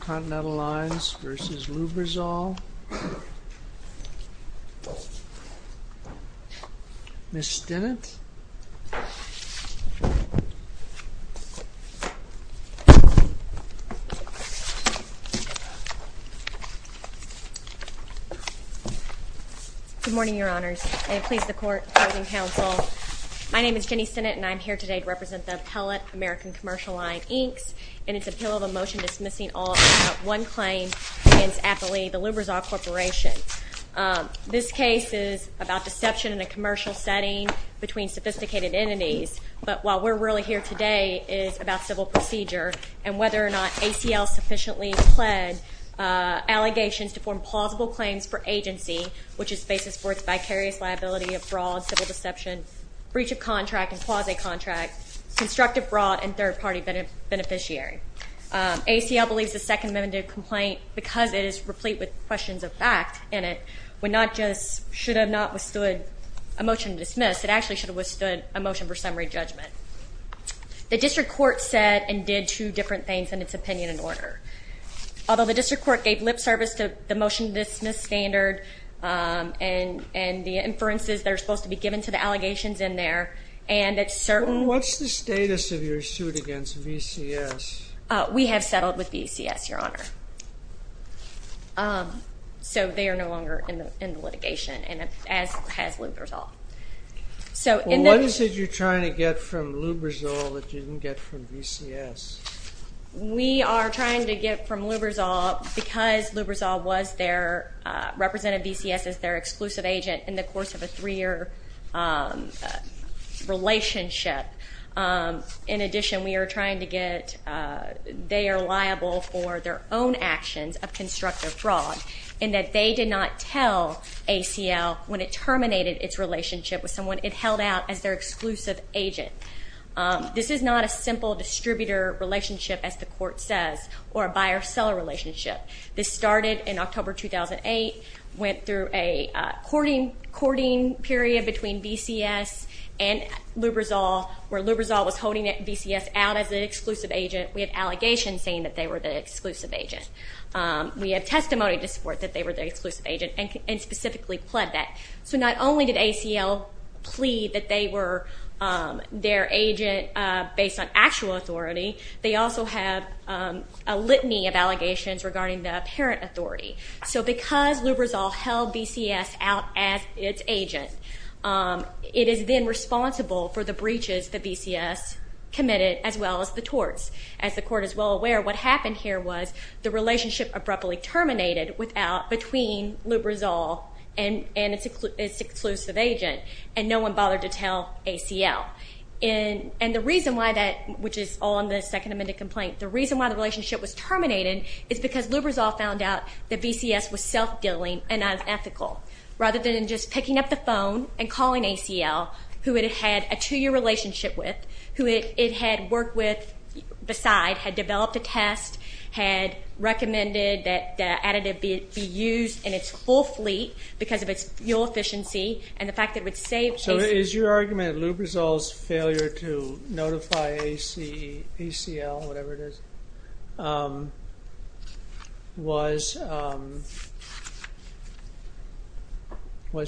Continental Lines v. Lubrizol. Ms. Stinnett. Good morning, Your Honors, and please the Court and Counsel. My name is Jenny Stinnett and I'm here today to represent the appellate American Commercial Line Inc.'s in its appeal of a motion dismissing all but one claim against Appalachia, the Lubrizol Corporation. This case is about deception in a commercial setting between sophisticated entities, but while we're really here today, it is about civil procedure and whether or not ACL sufficiently pled allegations to form plausible claims for agency, which is basis for its vicarious liability of fraud, civil deception, breach of contract, and quasi-contract, constructive fraud, and third-party beneficiary. ACL believes the Second Amendment complaint, because it is replete with questions of fact in it, would not just should have not withstood a motion to dismiss, it actually should have withstood a motion for summary judgment. The District Court said and did two different things in its opinion and order. Although the District Court gave lip service to the motion to dismiss standard and the inferences that are supposed to be given to the against VCS. We have settled with VCS, Your Honor. So they are no longer in the litigation and as has Lubrizol. So what is it you're trying to get from Lubrizol that you didn't get from VCS? We are trying to get from Lubrizol, because Lubrizol was there, represented VCS as their exclusive agent in the course of a career relationship. In addition, we are trying to get, they are liable for their own actions of constructive fraud, and that they did not tell ACL when it terminated its relationship with someone it held out as their exclusive agent. This is not a simple distributor relationship, as the court says, or a buyer-seller relationship. This started in October 2008, went through a courting period between VCS and Lubrizol, where Lubrizol was holding VCS out as an exclusive agent. We have allegations saying that they were the exclusive agent. We have testimony to support that they were the exclusive agent and specifically pled that. So not only did ACL plead that they were their agent based on actual authority, they also have a litany of allegations regarding the parent authority. So because Lubrizol held VCS out as its agent, it is then responsible for the breaches that VCS committed, as well as the torts. As the court is well aware, what happened here was the relationship abruptly terminated between Lubrizol and its exclusive agent, and no one bothered to tell ACL. And the reason why that, which is all in the second amended complaint, the reason why the relationship was terminated is because Lubrizol found out that VCS was self-dealing and unethical. Rather than just picking up the phone and calling ACL, who it had a two-year relationship with, who it had worked with beside, had developed a test, had recommended that additive be used in its full fleet because of its fuel efficiency, and the fact that it would save... So is your argument Lubrizol's failure to notify ACL, whatever it is, was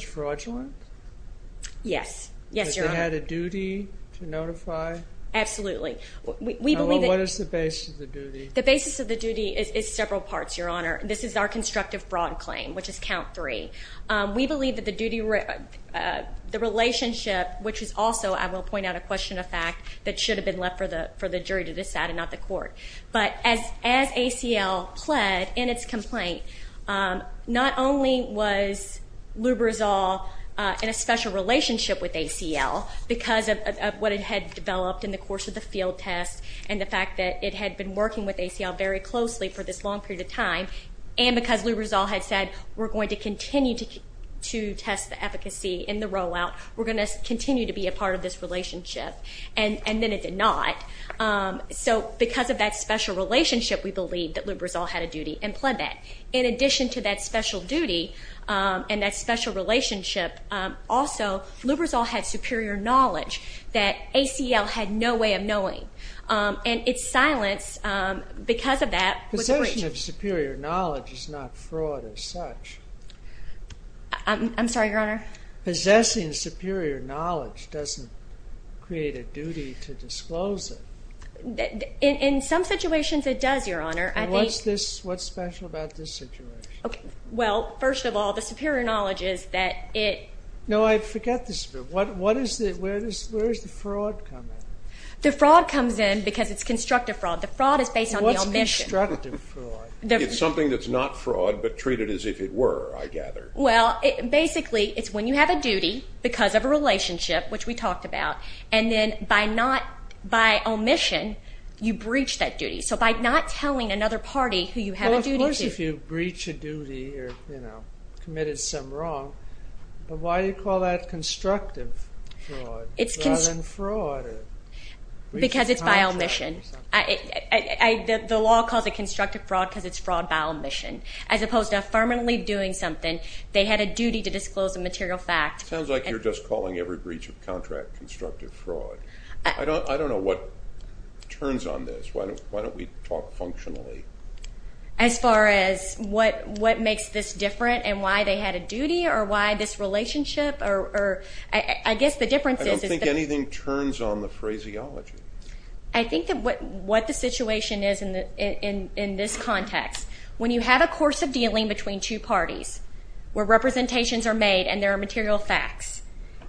fraudulent? Yes. Yes. They had a duty to notify? Absolutely. What is the basis of the duty? The basis of the duty is several parts, Your Honor. This is our constructive fraud claim, which is count three. We believe that the duty... the relationship, which is also, I will point out a question of fact, that should have been left for the jury to decide and not the court. But as ACL pled in its complaint, not only was Lubrizol in a special relationship with ACL because of what it had developed in the course of the field test, and the fact that it had been working with ACL very closely for this long period of time, and because Lubrizol had said, we're going to continue to test the efficacy in the rollout, we're going to continue to be a because of that special relationship, we believe that Lubrizol had a duty and pled that. In addition to that special duty, and that special relationship, also Lubrizol had superior knowledge that ACL had no way of knowing. And its silence, because of that... Possession of superior knowledge is not fraud as such. I'm sorry, Your Honor? Possessing superior knowledge doesn't create a duty to disclose it. In some situations it does, Your Honor. What's special about this situation? Well, first of all, the superior knowledge is that it... No, I forget this. Where does the fraud come in? The fraud comes in because it's constructive fraud. The fraud is based on the omission. What's constructive fraud? It's something that's not fraud, but treated as if it were, I gather. Well, basically, it's when you have a duty because of a relationship, which we talked about, and then by omission, you breach that duty. So by not telling another party who you have a duty to... Well, of course if you breach a duty or, you know, committed some wrong, but why do you call that constructive fraud rather than fraud? Because it's by omission. The law calls it constructive fraud because it's fraud by omission, as opposed to affirmatively doing something. They had a duty to disclose a material fact. Sounds like you're just calling every breach of contract constructive fraud. I don't know what turns on this. Why don't we talk functionally? As far as what makes this different and why they had a duty or why this relationship or... I guess the difference is... I don't think anything turns on the phraseology. I think that what the situation is in this context, when you have a course of dealing between two parties, where representations are made and there are material facts,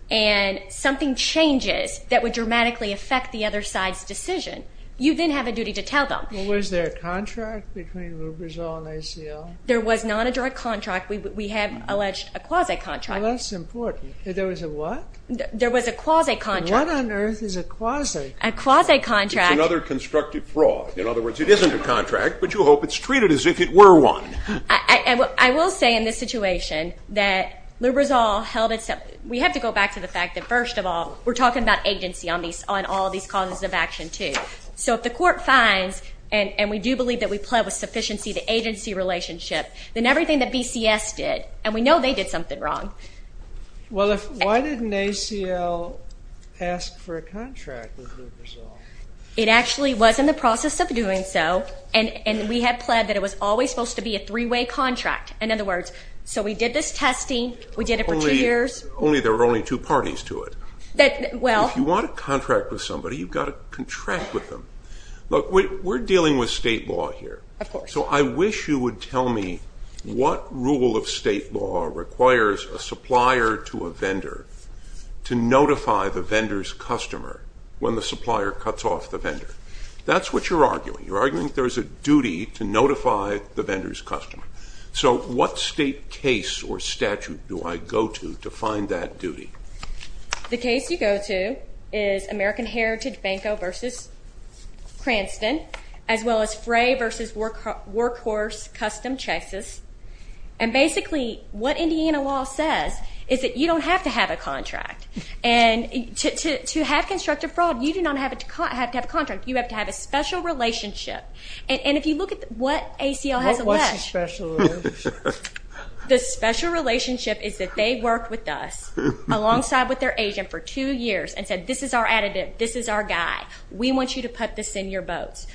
and something changes that would dramatically affect the other side's decision, you then have a duty to tell them. Was there a contract between Lubrizol and ACL? There was not a direct contract. We have alleged a quasi-contract. That's important. There was a what? There was a quasi-contract. What on earth is a quasi-contract? A quasi-contract... It's another constructive fraud. In other words, it isn't a contract, but you hope it's treated as if it were one. I will say in this situation that Lubrizol held itself... We have to go back to the fact that, first of all, we're talking about agency on all these causes of action, too. So if the court finds, and we do believe that we pled with sufficiency to agency relationship, then everything that BCS did, and we know they did something wrong... Well, why didn't ACL ask for a contract with Lubrizol? It actually was in the process of doing so, and we had pled that it was always supposed to be a three-way contract. In other words, so we did this testing. We did it for two years. Only there were only two parties to it. If you want a contract with somebody, you've got to contract with them. Look, we're dealing with state law here. So I wish you would tell me what rule of state law requires a supplier to a vendor to notify the vendor's customer when the supplier cuts off the vendor. That's what you're arguing. You're arguing there's a duty to notify the vendor's customer. So what state case or case you go to is American Heritage Banco versus Cranston, as well as Frey versus Workhorse Custom Chases. And basically, what Indiana law says is that you don't have to have a contract. And to have constructive fraud, you do not have to have a contract. You have to have a special relationship. And if you look at what ACL has alleged... What's the special relationship? The special relationship is that they had a relationship for two years and said, this is our additive. This is our guy. We want you to put this in your boats.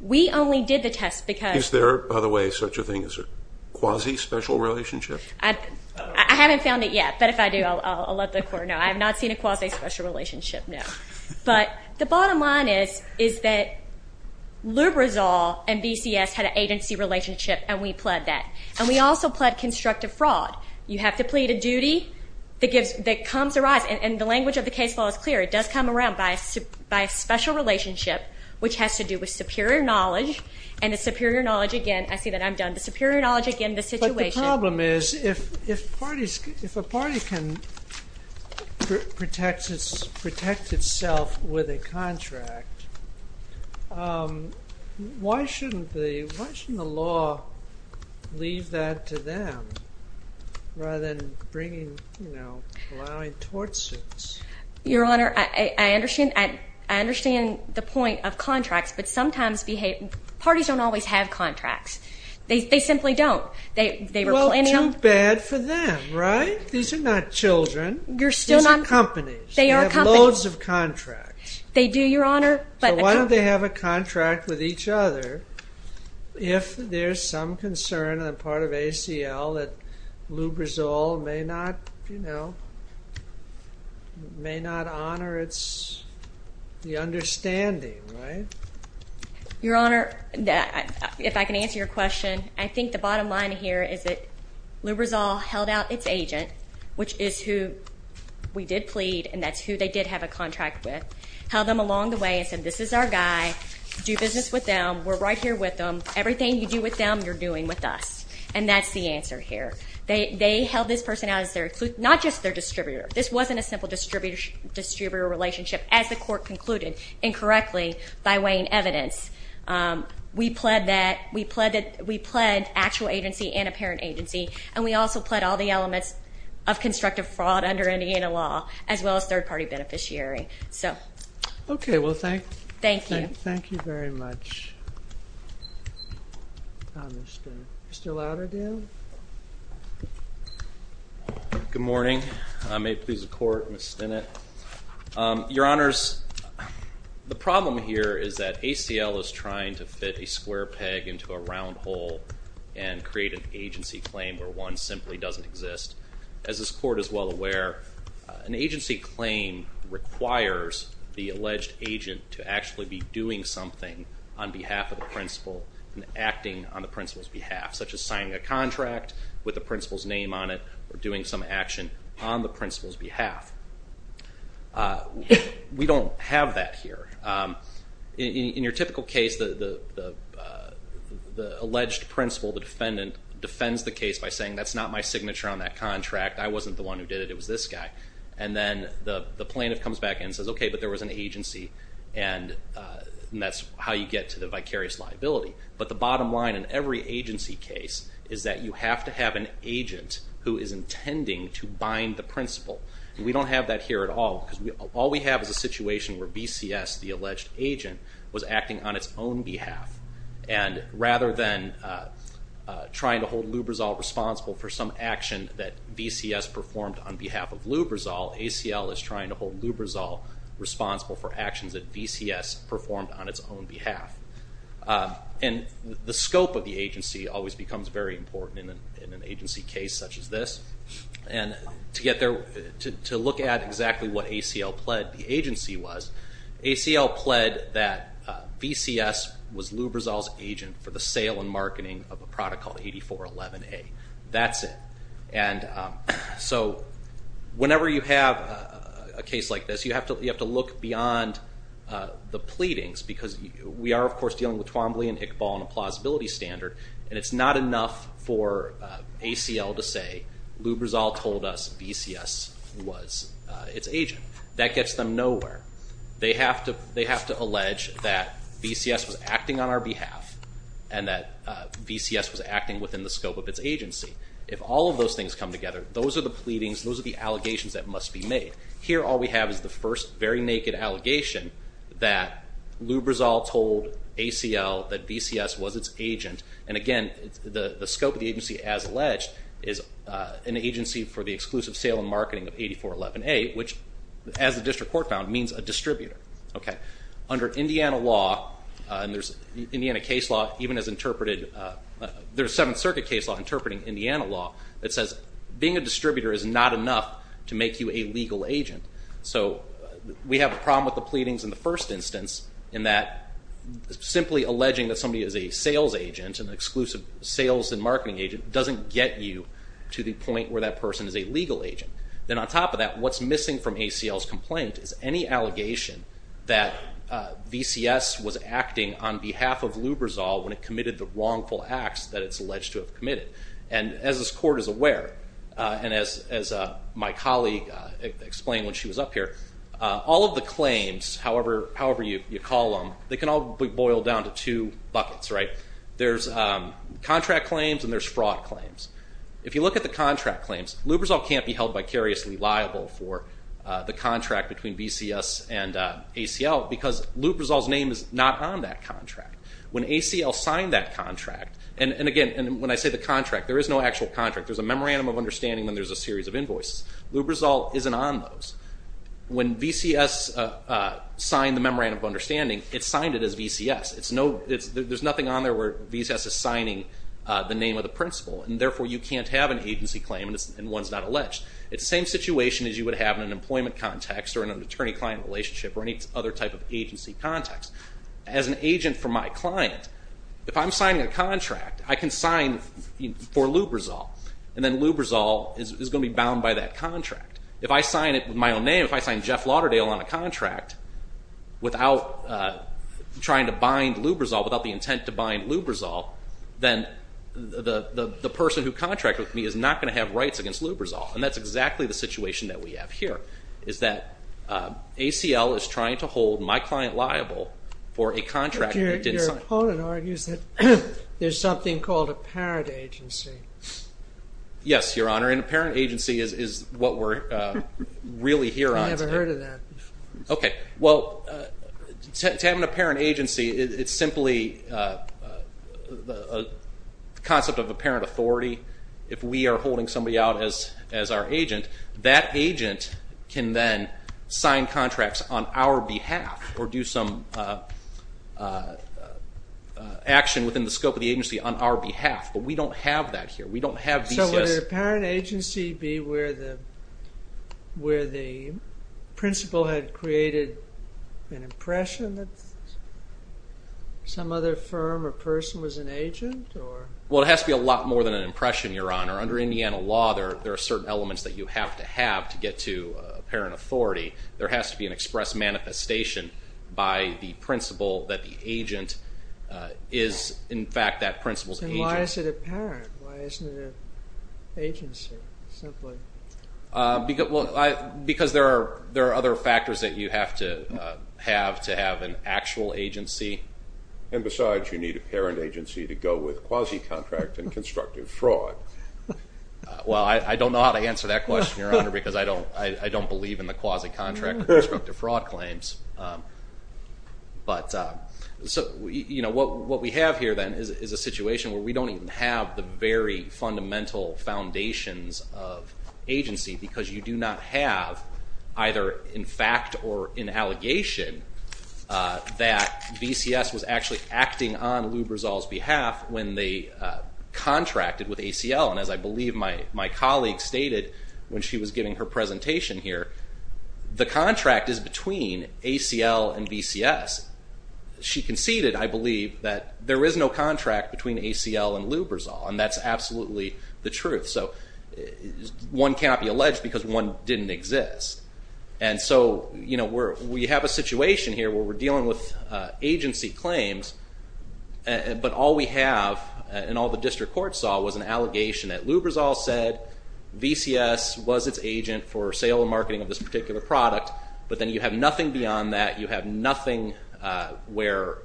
We only did the test because... Is there, by the way, such a thing as a quasi-special relationship? I haven't found it yet, but if I do, I'll let the court know. I have not seen a quasi-special relationship, no. But the bottom line is that Lubrizol and BCS had an agency relationship, and we pled that. And we also pled constructive fraud. You have to plead a duty that comes to rise. And the language of the case law is clear. It does come around by a special relationship, which has to do with superior knowledge. And the superior knowledge, again, I see that I'm done. The superior knowledge, again, the situation... Why shouldn't the law leave that to them, rather than allowing tort suits? Your Honor, I understand the point of contracts, but sometimes parties don't always have contracts. They simply don't. Well, too bad for them, right? These are not children. These are companies. They have loads of contracts. They do, Your Honor. So why don't they have a contract with each other if there's some concern on the part of ACL that Lubrizol may not honor the understanding, right? Your Honor, if I can answer your question, I think the bottom line here is that Lubrizol held out its agent, which is who we did plead, and that's who they did have a contract with. Held them along the way and said, this is our guy. Do business with them. We're right here with them. Everything you do with them, you're doing with us. And that's the answer here. They held this person out as their... Not just their distributor. This wasn't a simple distributor relationship, as the court concluded, incorrectly, by weighing evidence. We pled actual agency and apparent agency, and we also pled all the elements of constructive fraud under Indiana law, as well as third-party beneficiary. Okay. Well, thank you. Thank you. Thank you very much. Mr. Louderdale? Good morning. May it please the Court, Ms. Stinnett. Your Honors, the problem here is that ACL is trying to fit a square peg into a round hole and create an agency claim where one simply doesn't exist. As this Court is well aware, an agency claim requires the alleged agent to actually be doing something on behalf of the principal and acting on the principal's behalf, such as signing a contract with the principal's name on it or doing some action on the principal's behalf. We don't have that here. In your typical case, the alleged principal, the defendant, defends the case by saying, that's not my signature on that contract, I wasn't the one who did it, it was this guy. And then the plaintiff comes back and says, okay, but there was an agency, and that's how you get to the vicarious liability. But the bottom line in every agency case is that you have to have an agent who is intending to bind the principal. We don't have that here at all, because all we have is a situation where VCS, the alleged agent, was acting on its own behalf. And rather than trying to hold Lubrizol responsible for some action that VCS performed on behalf of Lubrizol, ACL is trying to hold Lubrizol responsible for actions that VCS performed on its own behalf. And the scope of the agency always becomes very important in an agency case such as this. And to get there, to look at exactly what ACL pled the agency was, ACL pled that VCS was Lubrizol's agent for the sale and marketing of a product called 8411A. That's it. And so whenever you have a case like this, you have to look beyond the pleadings, because we are, of course, dealing with Twombly and Iqbal and a plausibility standard, and it's not enough for ACL to say Lubrizol told us VCS was its agent. That gets them nowhere. They have to allege that VCS was acting on our behalf and that VCS was acting within the scope of its agency. If all of those things come together, those are the pleadings, those are the allegations that must be made. Here all we have is the first very naked allegation that Lubrizol told ACL that VCS was its agent and, again, the scope of the agency as alleged is an agency for the exclusive sale and marketing of 8411A, which, as the district court found, means a distributor. Under Indiana law, and there's Indiana case law even as interpreted, there's Seventh Circuit case law interpreting Indiana law that says being a distributor is not enough to make you a legal agent. We have a problem with the pleadings in the first instance in that simply alleging that somebody is a sales agent, an exclusive sales and marketing agent, doesn't get you to the point where that person is a legal agent. Then on top of that, what's missing from ACL's complaint is any allegation that VCS was acting on behalf of Lubrizol when it committed the wrongful acts that it's alleged to have committed. As this court is aware, and as my colleague explained when she was up here, all of the claims, however you call them, they can all be boiled down to two buckets. There's contract claims and there's fraud claims. If you look at the contract claims, Lubrizol can't be held vicariously liable for the contract between VCS and ACL because Lubrizol's name is not on that contract. When ACL signed that contract, and again, when I say the contract, there is no actual contract. There's a memorandum of understanding when there's a series of invoices. Lubrizol isn't on those. When VCS signed the memorandum of understanding, it signed it as VCS. There's nothing on there where VCS is signing the name of the principal, and therefore you can't have an agency claim and one's not alleged. It's the same situation as you would have in an employment context or an attorney-client relationship or any other type of agency context. As an agent for my client, if I'm signing a contract, I can sign for Lubrizol, and then Lubrizol is going to be bound by that contract. If I sign it with my own name, if I sign Jeff Lauderdale on a contract, without trying to bind Lubrizol, without the intent to bind Lubrizol, then the person who contracted with me is not going to have rights against Lubrizol, and that's exactly the situation that we have here, is that ACL is trying to hold my client liable for a contract that didn't sign. Your opponent argues that there's something called a parent agency. Yes, Your Honor, and a parent agency is what we're really here on today. I've never heard of that before. Okay. Well, to have an apparent agency, it's simply the concept of apparent authority. If we are holding somebody out as our agent, that agent can then sign contracts on our behalf or do some action within the scope of the agency on our behalf, but we don't have that here. So would an apparent agency be where the principal had created an impression that some other firm or person was an agent? Well, it has to be a lot more than an impression, Your Honor. Under Indiana law, there are certain elements that you have to have to get to apparent authority. There has to be an express manifestation by the principal that the agent is, in fact, that principal's agent. Then why is it apparent? Why isn't it an agency, simply? Because there are other factors that you have to have to have an actual agency. And besides, you need an apparent agency to go with quasi-contract and constructive fraud. Well, I don't know how to answer that question, Your Honor, because I don't believe in the quasi-contract and constructive fraud claims. But what we have here then is a situation where we don't even have the very fundamental foundations of agency because you do not have either in fact or in allegation that VCS was actually acting on Lubrizol's behalf when they contracted with ACL. And as I believe my colleague stated when she was giving her presentation here, the contract is between ACL and VCS. She conceded, I believe, that there is no contract between ACL and Lubrizol, and that's absolutely the truth. So one cannot be alleged because one didn't exist. And so we have a situation here where we're dealing with agency claims, but all we have and all the district court saw was an allegation that Lubrizol said VCS was its agent for sale and marketing of this particular product, but then you have nothing beyond that. You have nothing where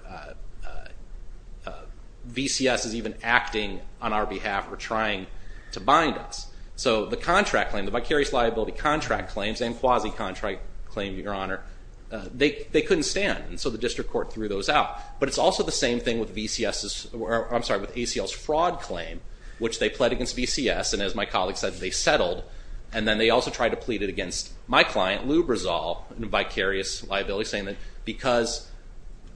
VCS is even acting on our behalf or trying to bind us. So the contract claim, the vicarious liability contract claims, and quasi-contract claim, Your Honor, they couldn't stand, and so the district court threw those out. But it's also the same thing with ACL's fraud claim, which they pled against VCS, and as my colleague said, they settled, and then they also tried to plead it against my client, Lubrizol, in vicarious liability, saying that because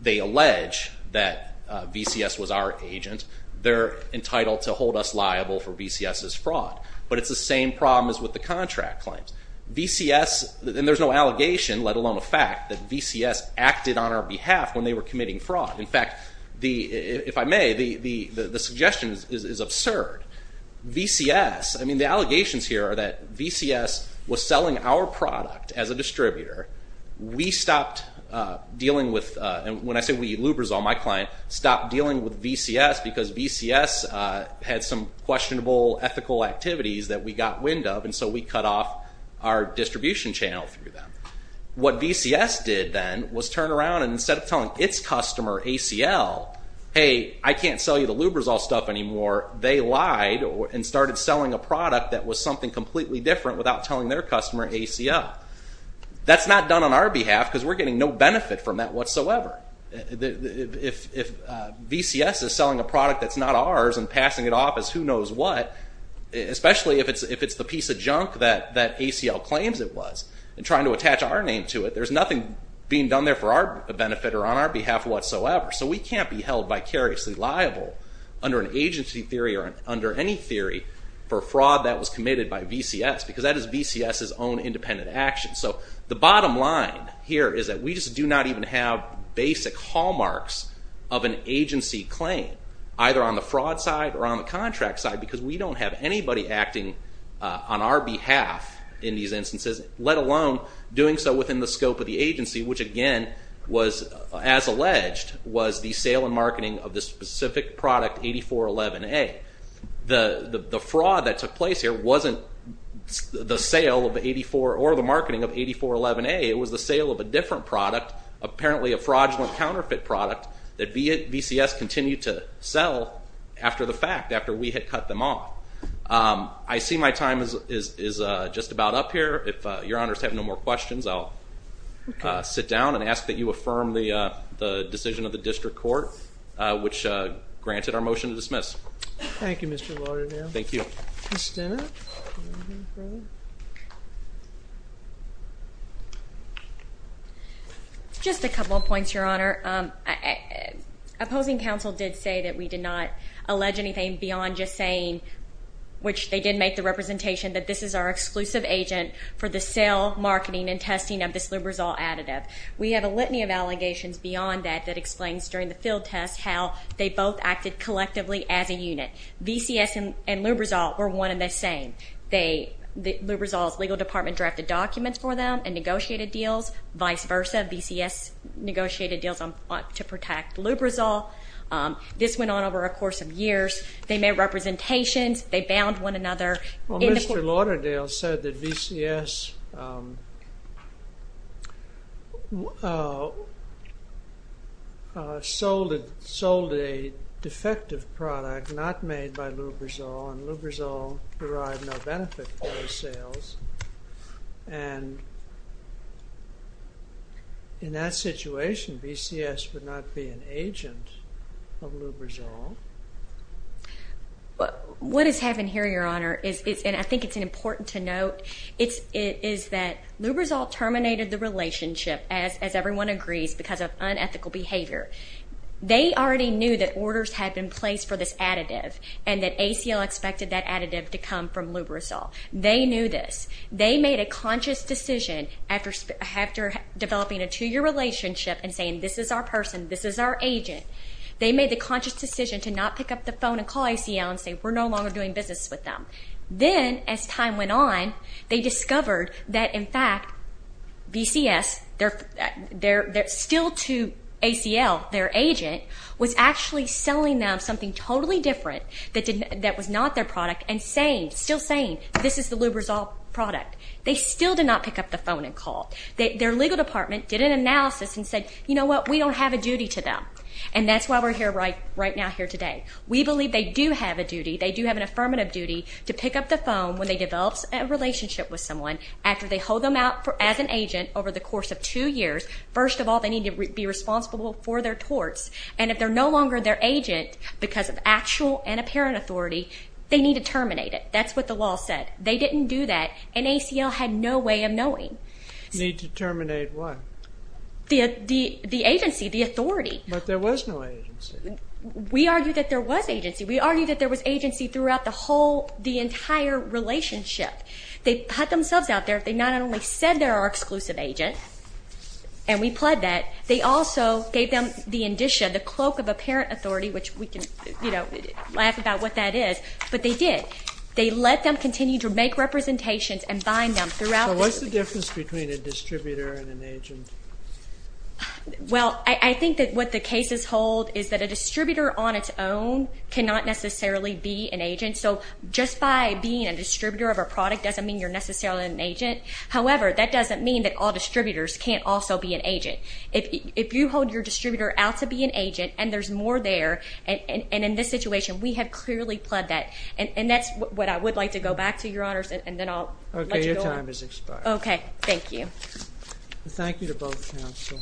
they allege that VCS was our agent, they're entitled to hold us liable for VCS's fraud. But it's the same problem as with the contract claims. VCS, and there's no allegation, let alone a fact, that VCS acted on our behalf when they were committing fraud. In fact, if I may, the suggestion is absurd. VCS, I mean, the allegations here are that VCS was selling our product as a distributor. We stopped dealing with, and when I say we, Lubrizol, my client, stopped dealing with VCS because VCS had some questionable ethical activities that we got wind of, and so we cut off our distribution channel through them. What VCS did then was turn around, and instead of telling its customer, ACL, hey, I can't sell you the Lubrizol stuff anymore, they lied and started selling a product that was something completely different without telling their customer, ACL. That's not done on our behalf because we're getting no benefit from that whatsoever. If VCS is selling a product that's not ours and passing it off as who knows what, especially if it's the piece of junk that ACL claims it was, and trying to attach our name to it, there's nothing being done there for our benefit or on our behalf whatsoever. So we can't be held vicariously liable under an agency theory or under any theory for fraud that was committed by VCS because that is VCS's own independent action. So the bottom line here is that we just do not even have basic hallmarks of an agency claim, either on the fraud side or on the contract side because we don't have anybody acting on our behalf in these instances, let alone doing so within the scope of the agency, which again, as alleged, was the sale and marketing of the specific product 8411A. The fraud that took place here wasn't the sale or the marketing of 8411A. It was the sale of a different product, apparently a fraudulent counterfeit product that VCS continued to sell after the fact, after we had cut them off. I see my time is just about up here. If Your Honor's have no more questions, I'll sit down and ask that you affirm the decision of the district court, which granted our motion to dismiss. Thank you, Mr. Lauderdale. Thank you. Ms. Stennett? Just a couple of points, Your Honor. Opposing counsel did say that we did not allege anything beyond just saying, which they did make the representation that this is our exclusive agent for the sale, marketing, and testing of this Lubrizol additive. We have a litany of allegations beyond that that explains during the field test how they both acted collectively as a unit. VCS and Lubrizol were one and the same. Lubrizol's legal department drafted documents for them and negotiated deals. Vice versa, VCS negotiated deals to protect Lubrizol. This went on over a course of years. They made representations. They bound one another. Well, Mr. Lauderdale said that VCS sold a defective product not made by Lubrizol, and Lubrizol derived no benefit from the sales. And in that situation, VCS would not be an agent of Lubrizol. What has happened here, Your Honor, and I think it's important to note, is that Lubrizol terminated the relationship, as everyone agrees, because of unethical behavior. They already knew that orders had been placed for this additive and that ACL expected that additive to come from Lubrizol. They knew this. They made a conscious decision after developing a two-year relationship and saying this is our person, this is our agent. They made the conscious decision to not pick up the phone and call ACL and say we're no longer doing business with them. Then, as time went on, they discovered that, in fact, VCS, still to ACL, their agent, was actually selling them something totally different that was not their product and still saying this is the Lubrizol product. They still did not pick up the phone and call. Their legal department did an analysis and said, you know what, we don't have a duty to them, and that's why we're here right now here today. We believe they do have a duty, they do have an affirmative duty, to pick up the phone when they develop a relationship with someone after they hold them out as an agent over the course of two years. First of all, they need to be responsible for their torts, and if they're no longer their agent because of actual and apparent authority, they need to terminate it. That's what the law said. They didn't do that, and ACL had no way of knowing. Need to terminate what? The agency, the authority. But there was no agency. We argue that there was agency. We argue that there was agency throughout the entire relationship. They put themselves out there. They not only said they're our exclusive agent, and we pled that, they also gave them the indicia, the cloak of apparent authority, which we can laugh about what that is, but they did. They let them continue to make representations and bind them throughout. What's the difference between a distributor and an agent? Well, I think that what the cases hold is that a distributor on its own cannot necessarily be an agent, so just by being a distributor of a product doesn't mean you're necessarily an agent. However, that doesn't mean that all distributors can't also be an agent. If you hold your distributor out to be an agent, and there's more there, and in this situation, we have clearly pled that, and that's what I would like to go back to, Your Honors, and then I'll let you go on. Your time has expired. Okay. Thank you. Thank you to both counsel.